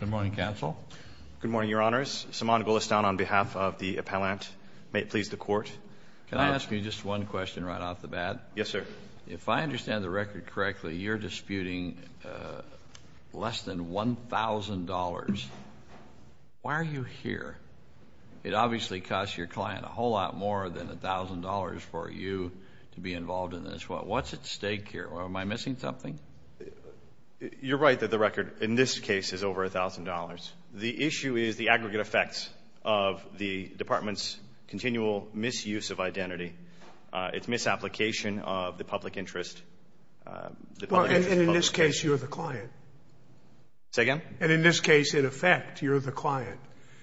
Good morning, Counsel. Good morning, Your Honors. Saman Gulistan on behalf of the appellant. May it please the Court. Can I ask you just one question right off the bat? Yes, sir. If I understand the record correctly, you're disputing less than $1,000. Why are you here? It obviously costs your client a whole lot more than $1,000 for you to be involved in this. What's at stake here? Am I missing something? You're right that the record in this case is over $1,000. The issue is the aggregate effects of the department's continual misuse of identity. It's misapplication of the public interest. And in this case, you're the client. Say again? And in this case, in effect, you're the client.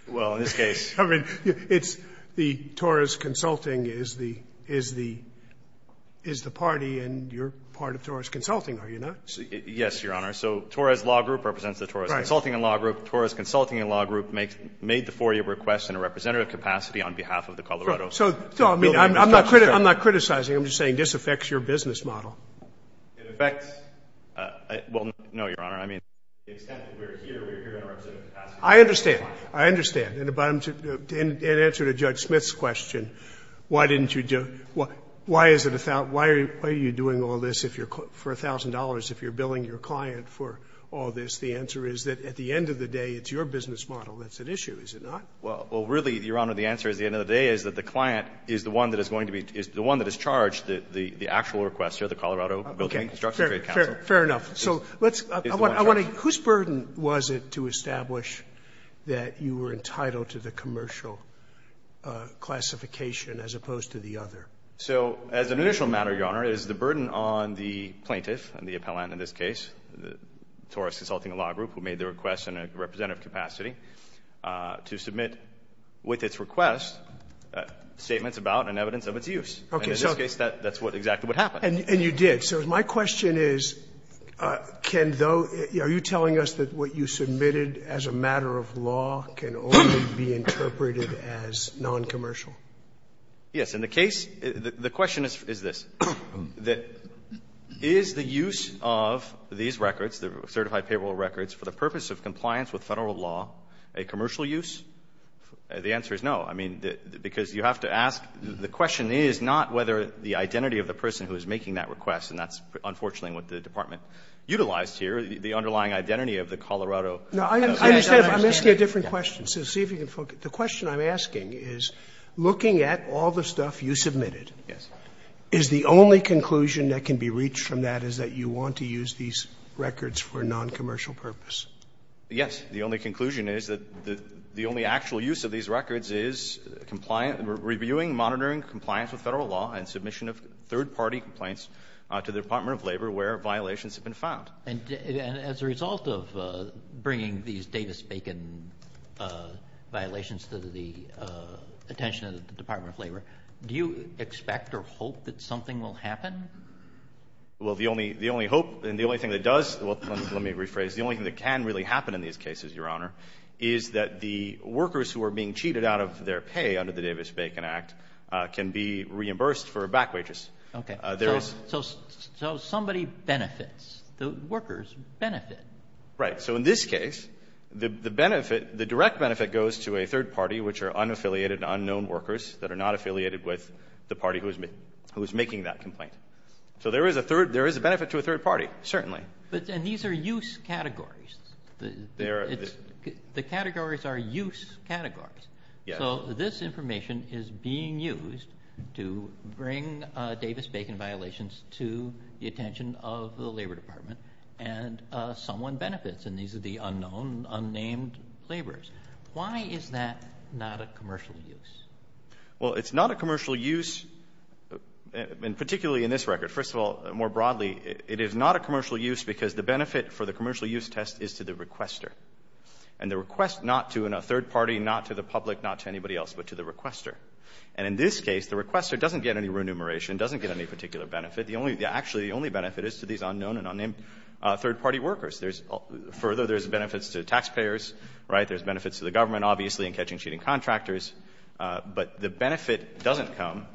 Well, in this case. I mean, it's the Torres Consulting is the party and you're part of Torres Consulting, are you not? Yes, Your Honor. So Torres Law Group represents the Torres Consulting and Law Group. Torres Consulting and Law Group made the 4-year request in a representative capacity on behalf of the Colorado. So, I mean, I'm not criticizing. I'm just saying this affects your business model. It affects. Well, no, Your Honor. I mean, the extent that we're here, we're here in a representative capacity. I understand. I understand. And in answer to Judge Smith's question, why didn't you do it? Why is it a thought? Why are you doing all this for $1,000 if you're billing your client for all this? The answer is that at the end of the day, it's your business model that's at issue, is it not? Well, really, Your Honor, the answer at the end of the day is that the client is the one that is going to be the one that has charged the actual requester, the Colorado Building and Construction Trade Council. Fair enough. Whose burden was it to establish that you were entitled to the commercial classification as opposed to the other? So as an initial matter, Your Honor, it is the burden on the plaintiff and the appellant in this case, Taurus Consulting Law Group, who made the request in a representative capacity to submit with its request statements about and evidence of its use. Okay. And in this case, that's exactly what happened. And you did. So my question is, can those – are you telling us that what you submitted as a matter of law can only be interpreted as noncommercial? Yes. In the case – the question is this. Is the use of these records, the certified payroll records, for the purpose of compliance with Federal law a commercial use? The answer is no. I mean, because you have to ask – the question is not whether the identity of the That's unfortunately what the Department utilized here, the underlying identity of the Colorado. No, I understand. I'm asking a different question. So see if you can focus. The question I'm asking is, looking at all the stuff you submitted, is the only conclusion that can be reached from that is that you want to use these records for a noncommercial purpose? Yes. The only conclusion is that the only actual use of these records is compliance – reviewing, monitoring compliance with Federal law and submission of third-party complaints to the Department of Labor where violations have been found. And as a result of bringing these Davis-Bacon violations to the attention of the Department of Labor, do you expect or hope that something will happen? Well, the only hope and the only thing that does – well, let me rephrase. The only thing that can really happen in these cases, Your Honor, is that the workers who are being cheated out of their pay under the Davis-Bacon Act can be reimbursed for back wages. Okay. So somebody benefits. The workers benefit. Right. So in this case, the benefit – the direct benefit goes to a third party, which are unaffiliated and unknown workers that are not affiliated with the party who is making that complaint. So there is a third – there is a benefit to a third party, certainly. And these are use categories. They are – The categories are use categories. Yes. So this information is being used to bring Davis-Bacon violations to the attention of the Labor Department, and someone benefits. And these are the unknown, unnamed laborers. Why is that not a commercial use? Well, it's not a commercial use, and particularly in this record. First of all, more broadly, it is not a commercial use because the benefit for the third party is to the requester. And the request not to a third party, not to the public, not to anybody else, but to the requester. And in this case, the requester doesn't get any remuneration, doesn't get any particular benefit. The only – actually, the only benefit is to these unknown and unnamed third-party workers. There's – further, there's benefits to the taxpayers, right? There's benefits to the government, obviously, in catching cheating contractors. But the benefit doesn't come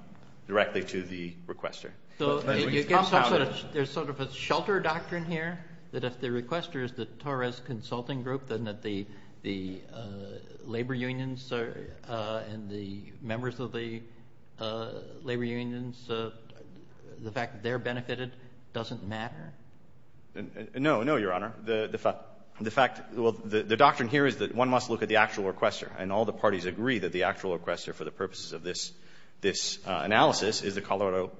directly to the requester. But it gives power. There's sort of a shelter doctrine here, that if the requester is the Torres Consulting Group, then that the labor unions and the members of the labor unions, the fact that they're benefited doesn't matter? No. No, Your Honor. The fact – well, the doctrine here is that one must look at the actual requester. And all the parties agree that the actual requester for the purposes of this analysis is the Colorado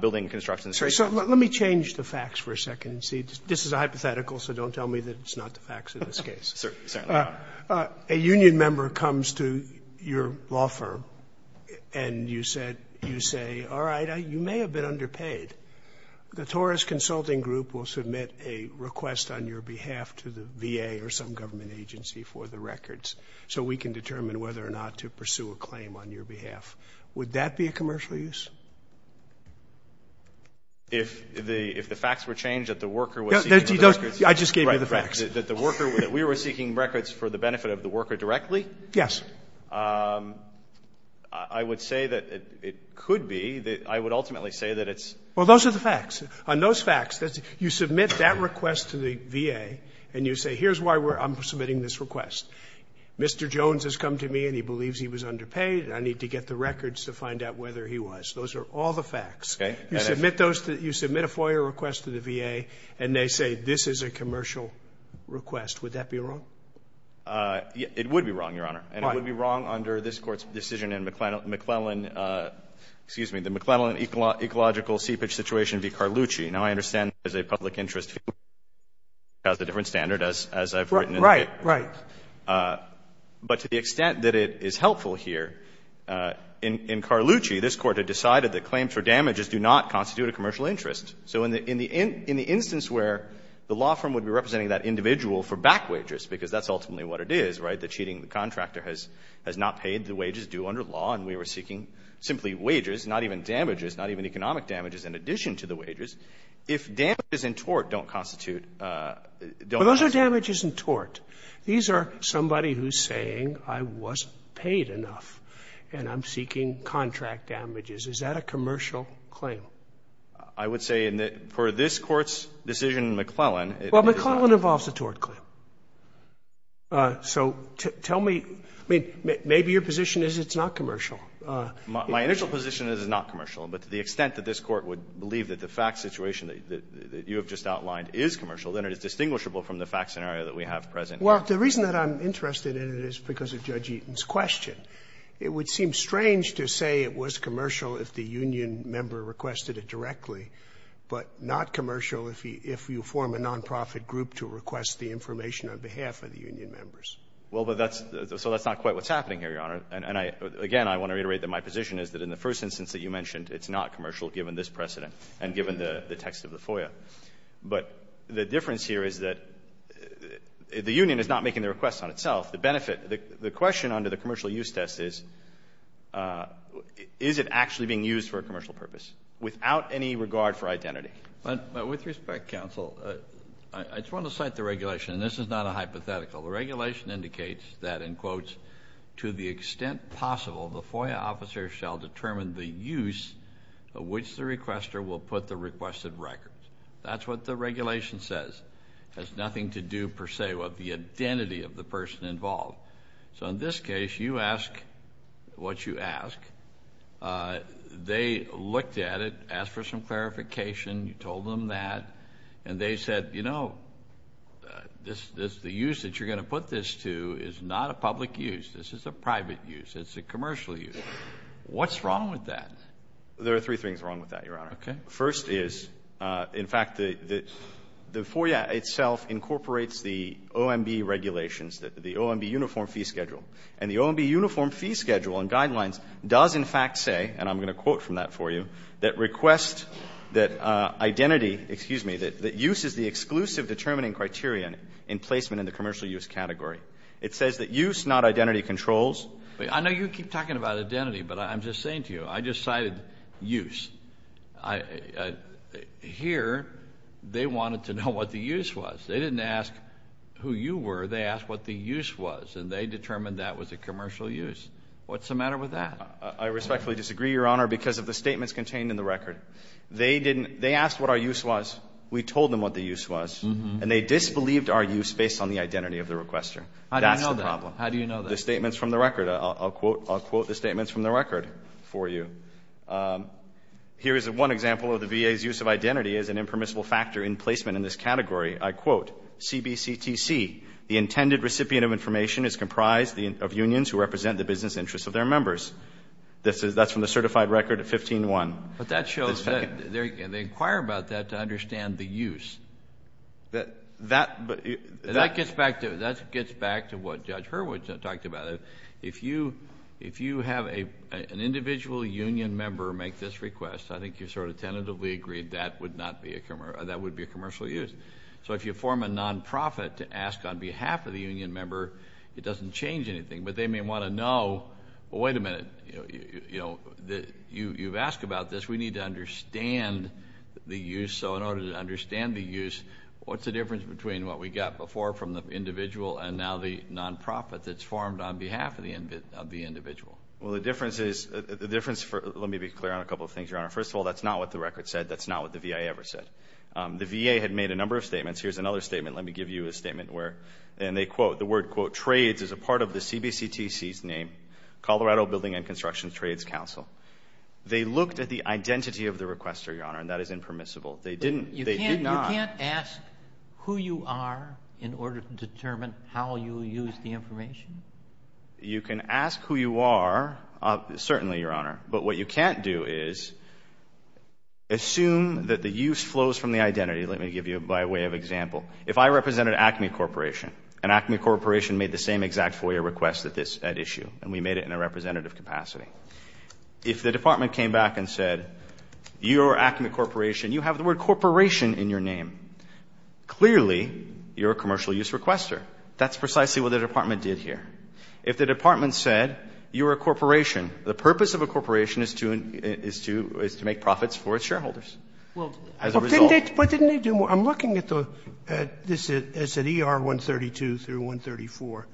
Building and Construction Association. So let me change the facts for a second and see. This is a hypothetical, so don't tell me that it's not the facts in this case. Certainly not. A union member comes to your law firm and you said – you say, all right, you may have been underpaid. The Torres Consulting Group will submit a request on your behalf to the VA or some government agency for the records so we can determine whether or not to pursue a claim on your behalf. Would that be a commercial use? If the facts were changed, that the worker was seeking for the records? I just gave you the facts. Right. That the worker – that we were seeking records for the benefit of the worker directly? Yes. I would say that it could be. I would ultimately say that it's – Well, those are the facts. On those facts, you submit that request to the VA and you say, here's why I'm submitting this request. Mr. Jones has come to me and he believes he was underpaid and I need to get the records to find out whether he was. Those are all the facts. Okay. You submit those – you submit a FOIA request to the VA and they say this is a commercial request. Would that be wrong? It would be wrong, Your Honor. Why? And it would be wrong under this Court's decision in McClellan – excuse me – the McClellan Ecological Seepage Situation v. Carlucci. Now, I understand there's a public interest fee. It has a different standard as I've written in the case. Right. But to the extent that it is helpful here, in Carlucci, this Court had decided that claims for damages do not constitute a commercial interest. So in the instance where the law firm would be representing that individual for back wages, because that's ultimately what it is, right, that cheating the contractor has not paid the wages due under law and we were seeking simply wages, not even damages, not even economic damages in addition to the wages. If damages in tort don't constitute – don't constitute damages. If damages in tort, these are somebody who's saying I wasn't paid enough and I'm seeking contract damages. Is that a commercial claim? I would say in the – for this Court's decision in McClellan, it is not. Well, McClellan involves a tort claim. So tell me – I mean, maybe your position is it's not commercial. My initial position is it's not commercial. But to the extent that this Court would believe that the fact situation that you have just outlined is commercial, then it is distinguishable from the fact scenario that we have present. Well, the reason that I'm interested in it is because of Judge Eaton's question. It would seem strange to say it was commercial if the union member requested it directly, but not commercial if you form a nonprofit group to request the information on behalf of the union members. Well, but that's – so that's not quite what's happening here, Your Honor. And I – again, I want to reiterate that my position is that in the first instance that you mentioned, it's not commercial given this precedent and given the text of the FOIA. But the difference here is that the union is not making the request on itself. The benefit – the question under the commercial use test is, is it actually being used for a commercial purpose without any regard for identity? But with respect, counsel, I just want to cite the regulation, and this is not a hypothetical. The regulation indicates that, in quotes, to the extent possible, the FOIA officer shall determine the use of which the requester will put the requested records. That's what the regulation says. It has nothing to do, per se, with the identity of the person involved. So in this case, you ask what you ask. They looked at it, asked for some clarification. You told them that. And they said, you know, the use that you're going to put this to is not a public use. This is a private use. It's a commercial use. What's wrong with that? There are three things wrong with that, Your Honor. First is, in fact, the FOIA itself incorporates the OMB regulations, the OMB uniform fee schedule. And the OMB uniform fee schedule and guidelines does, in fact, say, and I'm going to quote from that for you, that request that identity, excuse me, that use is the exclusive determining criterion in placement in the commercial use category. It says that use, not identity, controls. I know you keep talking about identity. But I'm just saying to you, I just cited use. Here, they wanted to know what the use was. They didn't ask who you were. They asked what the use was. And they determined that was a commercial use. What's the matter with that? I respectfully disagree, Your Honor, because of the statements contained in the record. They didn't they asked what our use was. We told them what the use was. And they disbelieved our use based on the identity of the requester. That's the problem. How do you know that? Because of the statements from the record. I'll quote the statements from the record for you. Here is one example of the VA's use of identity as an impermissible factor in placement in this category. I quote, CBCTC, the intended recipient of information is comprised of unions who represent the business interests of their members. That's from the certified record at 15-1. Kennedy. But that shows that they inquire about that to understand the use. That gets back to what Judge Hurwitz talked about. If you have an individual union member make this request, I think you sort of tentatively agreed that would be a commercial use. So if you form a nonprofit to ask on behalf of the union member, it doesn't change anything. But they may want to know, well, wait a minute, you know, you've asked about this. We need to understand the use. So in order to understand the use, what's the difference between what we got before from the individual and now the nonprofit that's formed on behalf of the individual? Well, the difference is, the difference for, let me be clear on a couple of things, Your Honor. First of all, that's not what the record said. That's not what the VA ever said. The VA had made a number of statements. Here's another statement. Let me give you a statement where, and they quote, the word, quote, trades is a part of the CBCTC's name, Colorado Building and Construction Trades Council. They looked at the identity of the requester, Your Honor, and that is impermissible. They didn't, they did not. But you can't ask who you are in order to determine how you use the information? You can ask who you are, certainly, Your Honor. But what you can't do is assume that the use flows from the identity. Let me give you, by way of example, if I represented Acme Corporation, and Acme Corporation made the same exact FOIA request at issue, and we made it in a representative capacity. If the Department came back and said, you are Acme Corporation, you have the word corporation in your name, clearly, you're a commercial use requester. That's precisely what the Department did here. If the Department said, you're a corporation, the purpose of a corporation is to make profits for its shareholders. As a result. Scalia. But didn't they do more? I'm looking at the, this is at ER 132 through 134.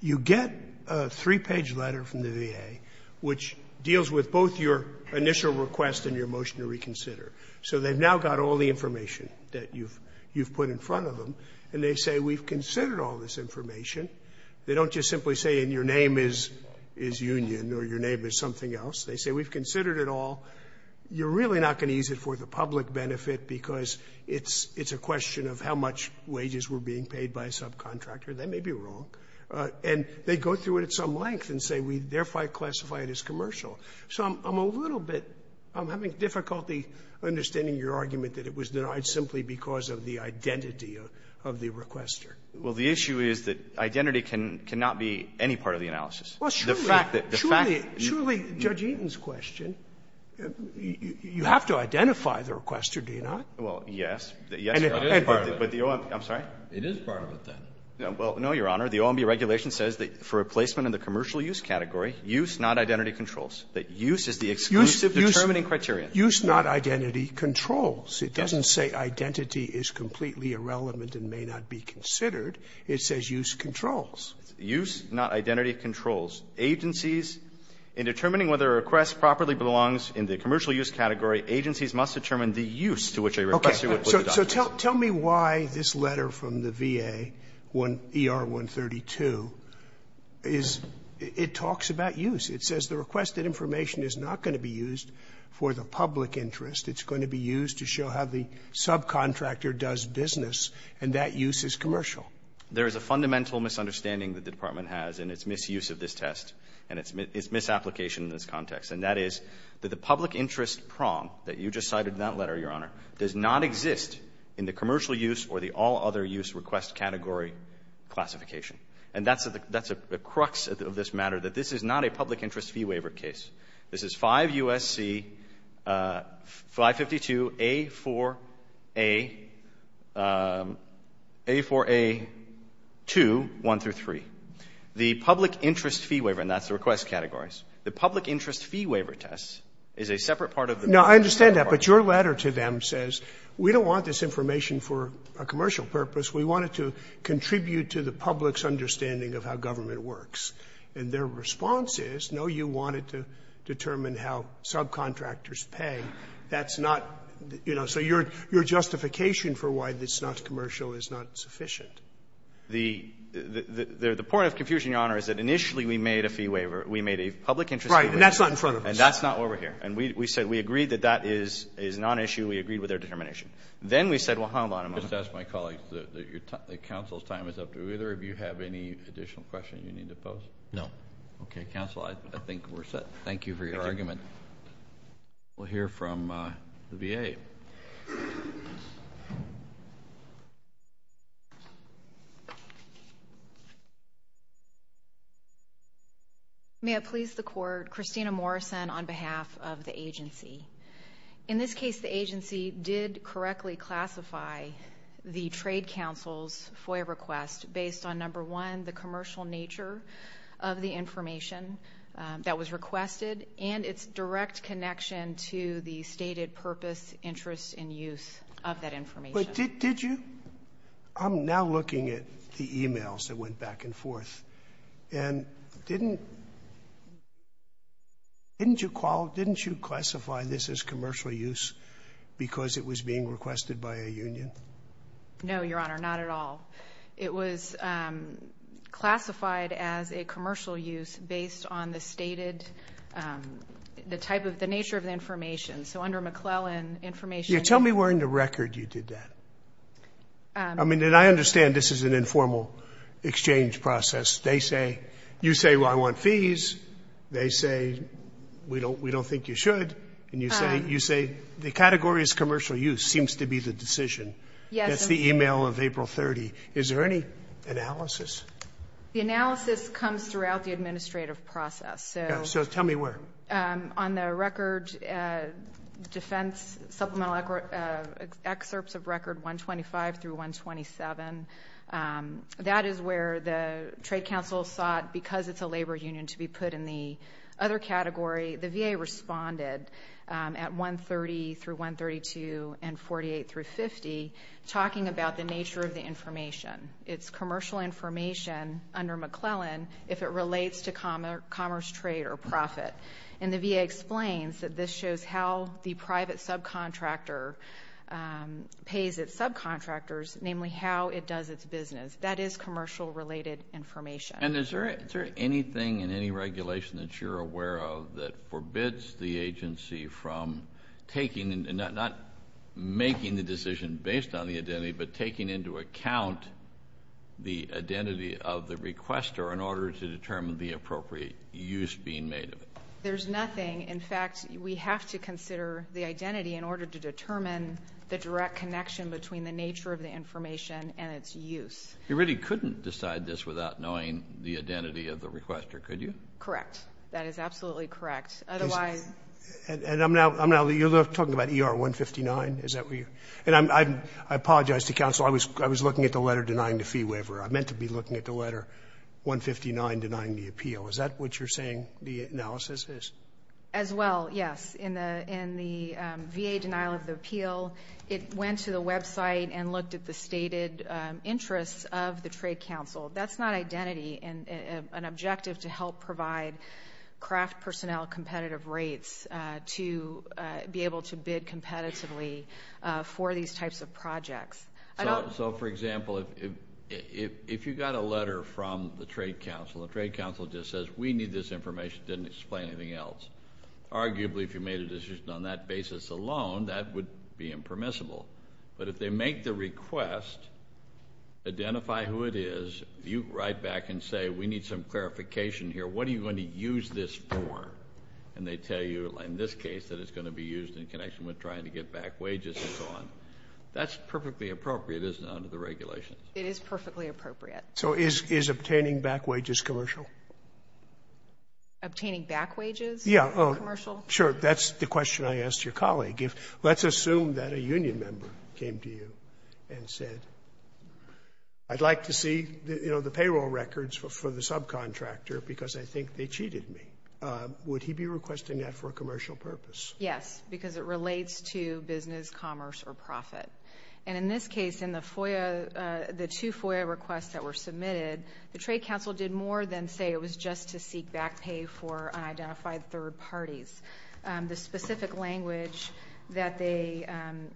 You get a three-page letter from the VA, which deals with both your initial request and your motion to reconsider. So they've now got all the information that you've put in front of them. And they say, we've considered all this information. They don't just simply say, and your name is Union, or your name is something else. They say, we've considered it all. You're really not going to use it for the public benefit, because it's a question of how much wages were being paid by a subcontractor. That may be wrong. And they go through it at some length and say, therefore, I classify it as commercial. So I'm a little bit, I'm having difficulty understanding your argument that it was denied simply because of the identity of the requester. Well, the issue is that identity can not be any part of the analysis. Well, surely. The fact that the fact. Surely, Judge Eaton's question, you have to identify the requester, do you not? Well, yes. And it is part of it. I'm sorry? It is part of it, then. Well, no, Your Honor. The OMB regulation says that for a placement in the commercial use category, use, not identity, controls. That use is the exclusive determining criterion. Use, not identity, controls. It doesn't say identity is completely irrelevant and may not be considered. It says use, controls. Use, not identity, controls. Agencies, in determining whether a request properly belongs in the commercial use category, agencies must determine the use to which a requester would put the document. So tell me why this letter from the VA, ER-132, is — it talks about use. It says the requested information is not going to be used for the public interest. It's going to be used to show how the subcontractor does business, and that use is commercial. There is a fundamental misunderstanding that the Department has in its misuse of this test and its misapplication in this context, and that is that the public interest prong that you just cited in that letter, Your Honor, does not exist in the commercial use or the all-other-use request category classification. And that's a — that's a crux of this matter, that this is not a public interest fee waiver case. This is 5 U.S.C. 552A4A — A4A2, 1 through 3. The public interest fee waiver, and that's the request categories, the public interest fee waiver test, is a separate part of the request category. Scalia. Now, I understand that, but your letter to them says, we don't want this information for a commercial purpose. We want it to contribute to the public's understanding of how government works. And their response is, no, you want it to determine how subcontractors pay. That's not — you know, so your justification for why this is not commercial is not sufficient. The point of confusion, Your Honor, is that initially we made a fee waiver. We made a public interest fee waiver. Right. And that's not in front of us. And that's not why we're here. And we said we agreed that that is non-issue. We agreed with their determination. Then we said, well, hold on a moment. Just ask my colleagues that your — that counsel's time is up. Do either of you have any additional questions you need to pose? No. Okay, counsel, I think we're set. Thank you for your argument. We'll hear from the VA. May it please the Court, Christina Morrison on behalf of the agency. In this case, the agency did correctly classify the Trade Council's FOIA request based on, number one, the commercial nature of the information that was requested and its direct connection to the stated purpose, interest, and use of that information. But did you — I'm now looking at the e-mails that went back and forth. And didn't — didn't you qualify — didn't you classify this as commercial use because it was being requested by a union? No, Your Honor, not at all. It was classified as a commercial use based on the stated — the type of — the nature of the information. So under McClellan, information — Yeah, tell me where in the record you did that. I mean, and I understand this is an informal exchange process. They say — you say, well, I want fees. They say, we don't — we don't think you should. And you say — you say the category is commercial use seems to be the decision. Yes. That's the e-mail of April 30. Is there any analysis? The analysis comes throughout the administrative process. So — Yeah, so tell me where. On the record, defense supplemental excerpts of record 125 through 127, that is where the Trade Council sought, because it's a labor union, to be put in the other category. The VA responded at 130 through 132 and 48 through 50, talking about the nature of the information. It's commercial information under McClellan if it relates to commerce trade or profit. And the VA explains that this shows how the private subcontractor pays its subcontractors, namely how it does its business. That is commercial related information. And is there — is there anything in any regulation that you're aware of that forbids the agency from taking — not making the decision based on the identity, but taking into account the identity of the requester in order to determine the appropriate use being made of it? There's nothing. In fact, we have to consider the identity in order to determine the direct connection between the nature of the information and its use. You really couldn't decide this without knowing the identity of the requester, could you? Correct. That is absolutely correct. Otherwise — And I'm now — I'm now — you're talking about ER-159? Is that where you — and I'm — I apologize to counsel, I was looking at the letter denying the fee waiver. I meant to be looking at the letter 159 denying the appeal. Is that what you're saying the analysis is? As well, yes. In the — in the VA denial of the appeal, it went to the website and looked at the stated interests of the trade council. That's not identity and an objective to help provide craft personnel competitive rates to be able to bid competitively for these types of projects. I don't — So, for example, if you got a letter from the trade council, the trade council just says, we need this information, didn't explain anything else. Arguably, if you made a decision on that basis alone, that would be impermissible. But if they make the request, identify who it is, you write back and say, we need some clarification here. What are you going to use this for? And they tell you, in this case, that it's going to be used in connection with trying to get back wages and so on. That's perfectly appropriate, isn't it, under the regulations? It is perfectly appropriate. So is obtaining back wages commercial? Obtaining back wages? Yeah. Commercial? Sure. That's the question I asked your colleague. Let's assume that a union member came to you and said, I'd like to see, you know, the payroll records for the subcontractor because I think they cheated me. Would he be requesting that for a commercial purpose? Yes, because it relates to business, commerce, or profit. And in this case, in the FOIA — the two FOIA requests that were submitted, the trade council did more than say it was just to seek back pay for unidentified third parties. The specific language that they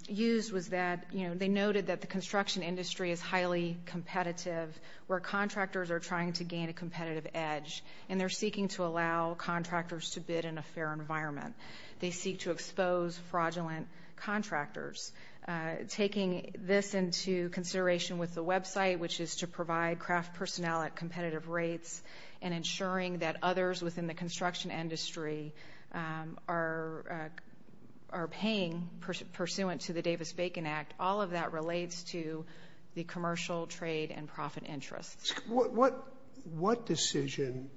used was that, you know, they noted that the construction industry is highly competitive, where contractors are trying to gain a competitive edge, and they're seeking to allow contractors to bid in a fair environment. They seek to expose fraudulent contractors. Taking this into consideration with the website, which is to provide craft personnel at competitive rates and ensuring that others within the construction industry are paying pursuant to the Davis-Bacon Act, all of that relates to the commercial, trade, and profit interests. What decision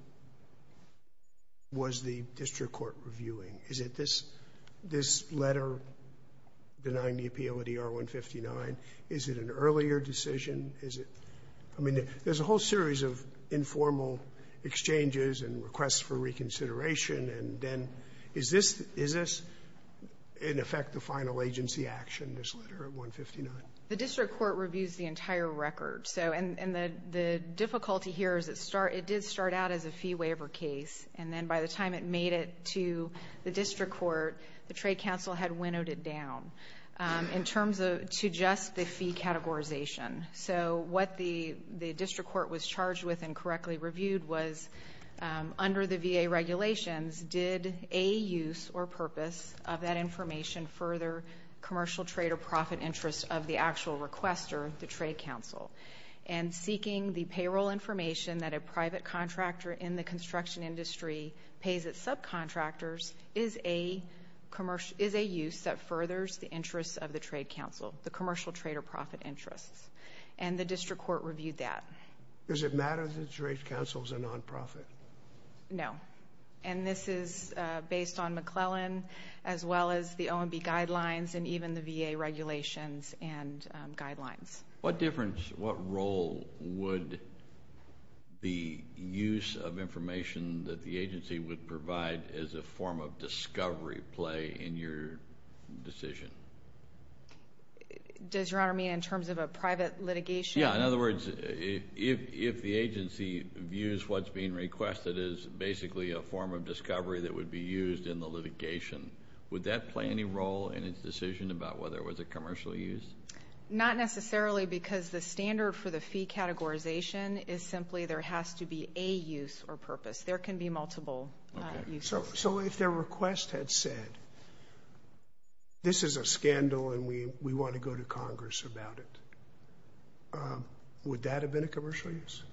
was the district court reviewing? Is it this letter denying the appeal at ER 159? Is it an earlier decision? Is it — I mean, there's a whole series of informal exchanges and requests for reconsideration, and then is this, in effect, the final agency action, this letter at 159? The district court reviews the entire record, so — and the difficulty here is it did start out as a fee waiver case, and then by the time it made it to the district court, the trade council had winnowed it down in terms of — to just the fee categorization. So what the district court was charged with and correctly reviewed was, under the VA regulations, did a use or purpose of that information further commercial, trade, or profit interests of the actual requester, the trade council? And seeking the payroll information that a private contractor in the construction industry pays its subcontractors is a use that furthers the interests of the trade council, the commercial, trade, or profit interests. And the district court reviewed that. Is it a matter that the trade council is a nonprofit? No. And this is based on McClellan, as well as the OMB guidelines, and even the VA regulations and guidelines. What difference — what role would the use of information that the agency would provide as a form of discovery play in your decision? Does Your Honor mean in terms of a private litigation? Yeah. In other words, if the agency views what's being requested as basically a form of discovery that would be used in the litigation, would that play any role in its decision about whether it was a commercial use? Not necessarily, because the standard for the fee categorization is simply there has to be a use or purpose. There can be multiple uses. So if their request had said, this is a scandal and we want to go to Congress about it, would that have been a commercial use?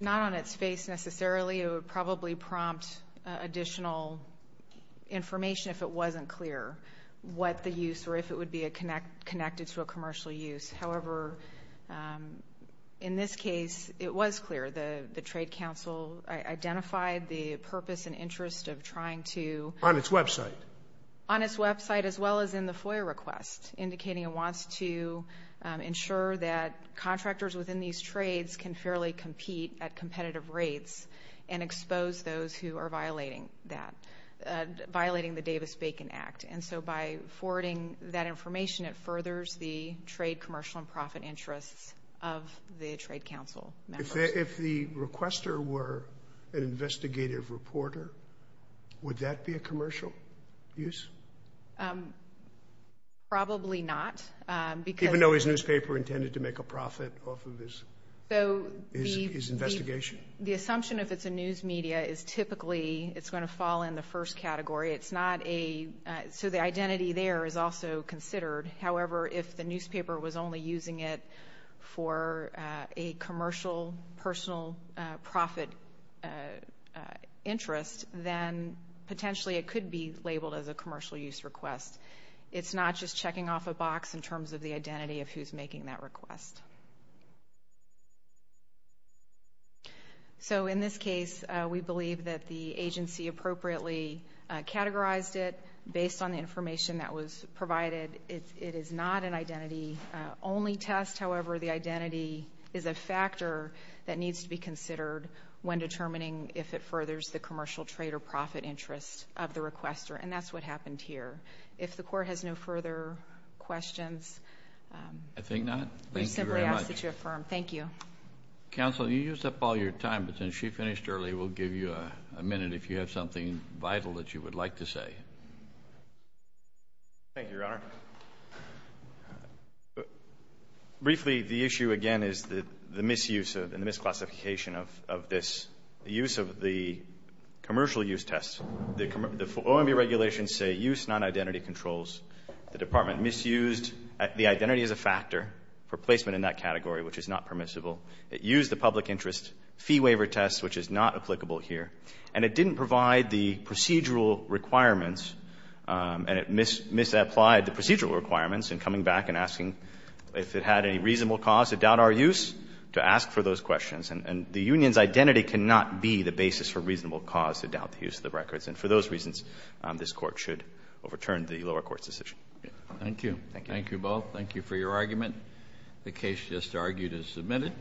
Not on its face, necessarily. It would probably prompt additional information if it wasn't clear what the use or if it would be connected to a commercial use. However, in this case, it was clear. The Trade Council identified the purpose and interest of trying to — On its website. On its website, as well as in the FOIA request, indicating it wants to ensure that contractors within these trades can fairly compete at competitive rates and expose those who are violating that — violating the Davis-Bacon Act. And so by forwarding that information, it furthers the trade, commercial, and profit interests of the Trade Council members. If the requester were an investigative reporter, would that be a commercial use? Probably not. Because — Even though his newspaper intended to make a profit off of his investigation? The assumption, if it's a news media, is typically it's going to fall in the first category. It's not a — so the identity there is also considered. However, if the newspaper was only using it for a commercial, personal, profit interest, then potentially it could be labeled as a commercial use request. It's not just checking off a box in terms of the identity of who's making that request. So in this case, we believe that the agency appropriately categorized it based on the provided it is not an identity-only test. However, the identity is a factor that needs to be considered when determining if it furthers the commercial, trade, or profit interest of the requester. And that's what happened here. If the Court has no further questions — I think not. Thank you very much. We simply ask that you affirm. Thank you. Counsel, you used up all your time, but since she finished early, we'll give you a minute if you have something vital that you would like to say. Thank you, Your Honor. Briefly, the issue, again, is the misuse and the misclassification of this. The use of the commercial use test, the OMB regulations say use non-identity controls. The Department misused the identity as a factor for placement in that category, which is not permissible. It used the public interest fee waiver test, which is not applicable here. And it didn't provide the procedural requirements, and it misapplied the procedural requirements in coming back and asking if it had any reasonable cause to doubt our use, to ask for those questions. And the union's identity cannot be the basis for reasonable cause to doubt the use of the records. And for those reasons, this Court should overturn the lower court's decision. Thank you. Thank you both. Thank you for your argument. The case just argued is submitted.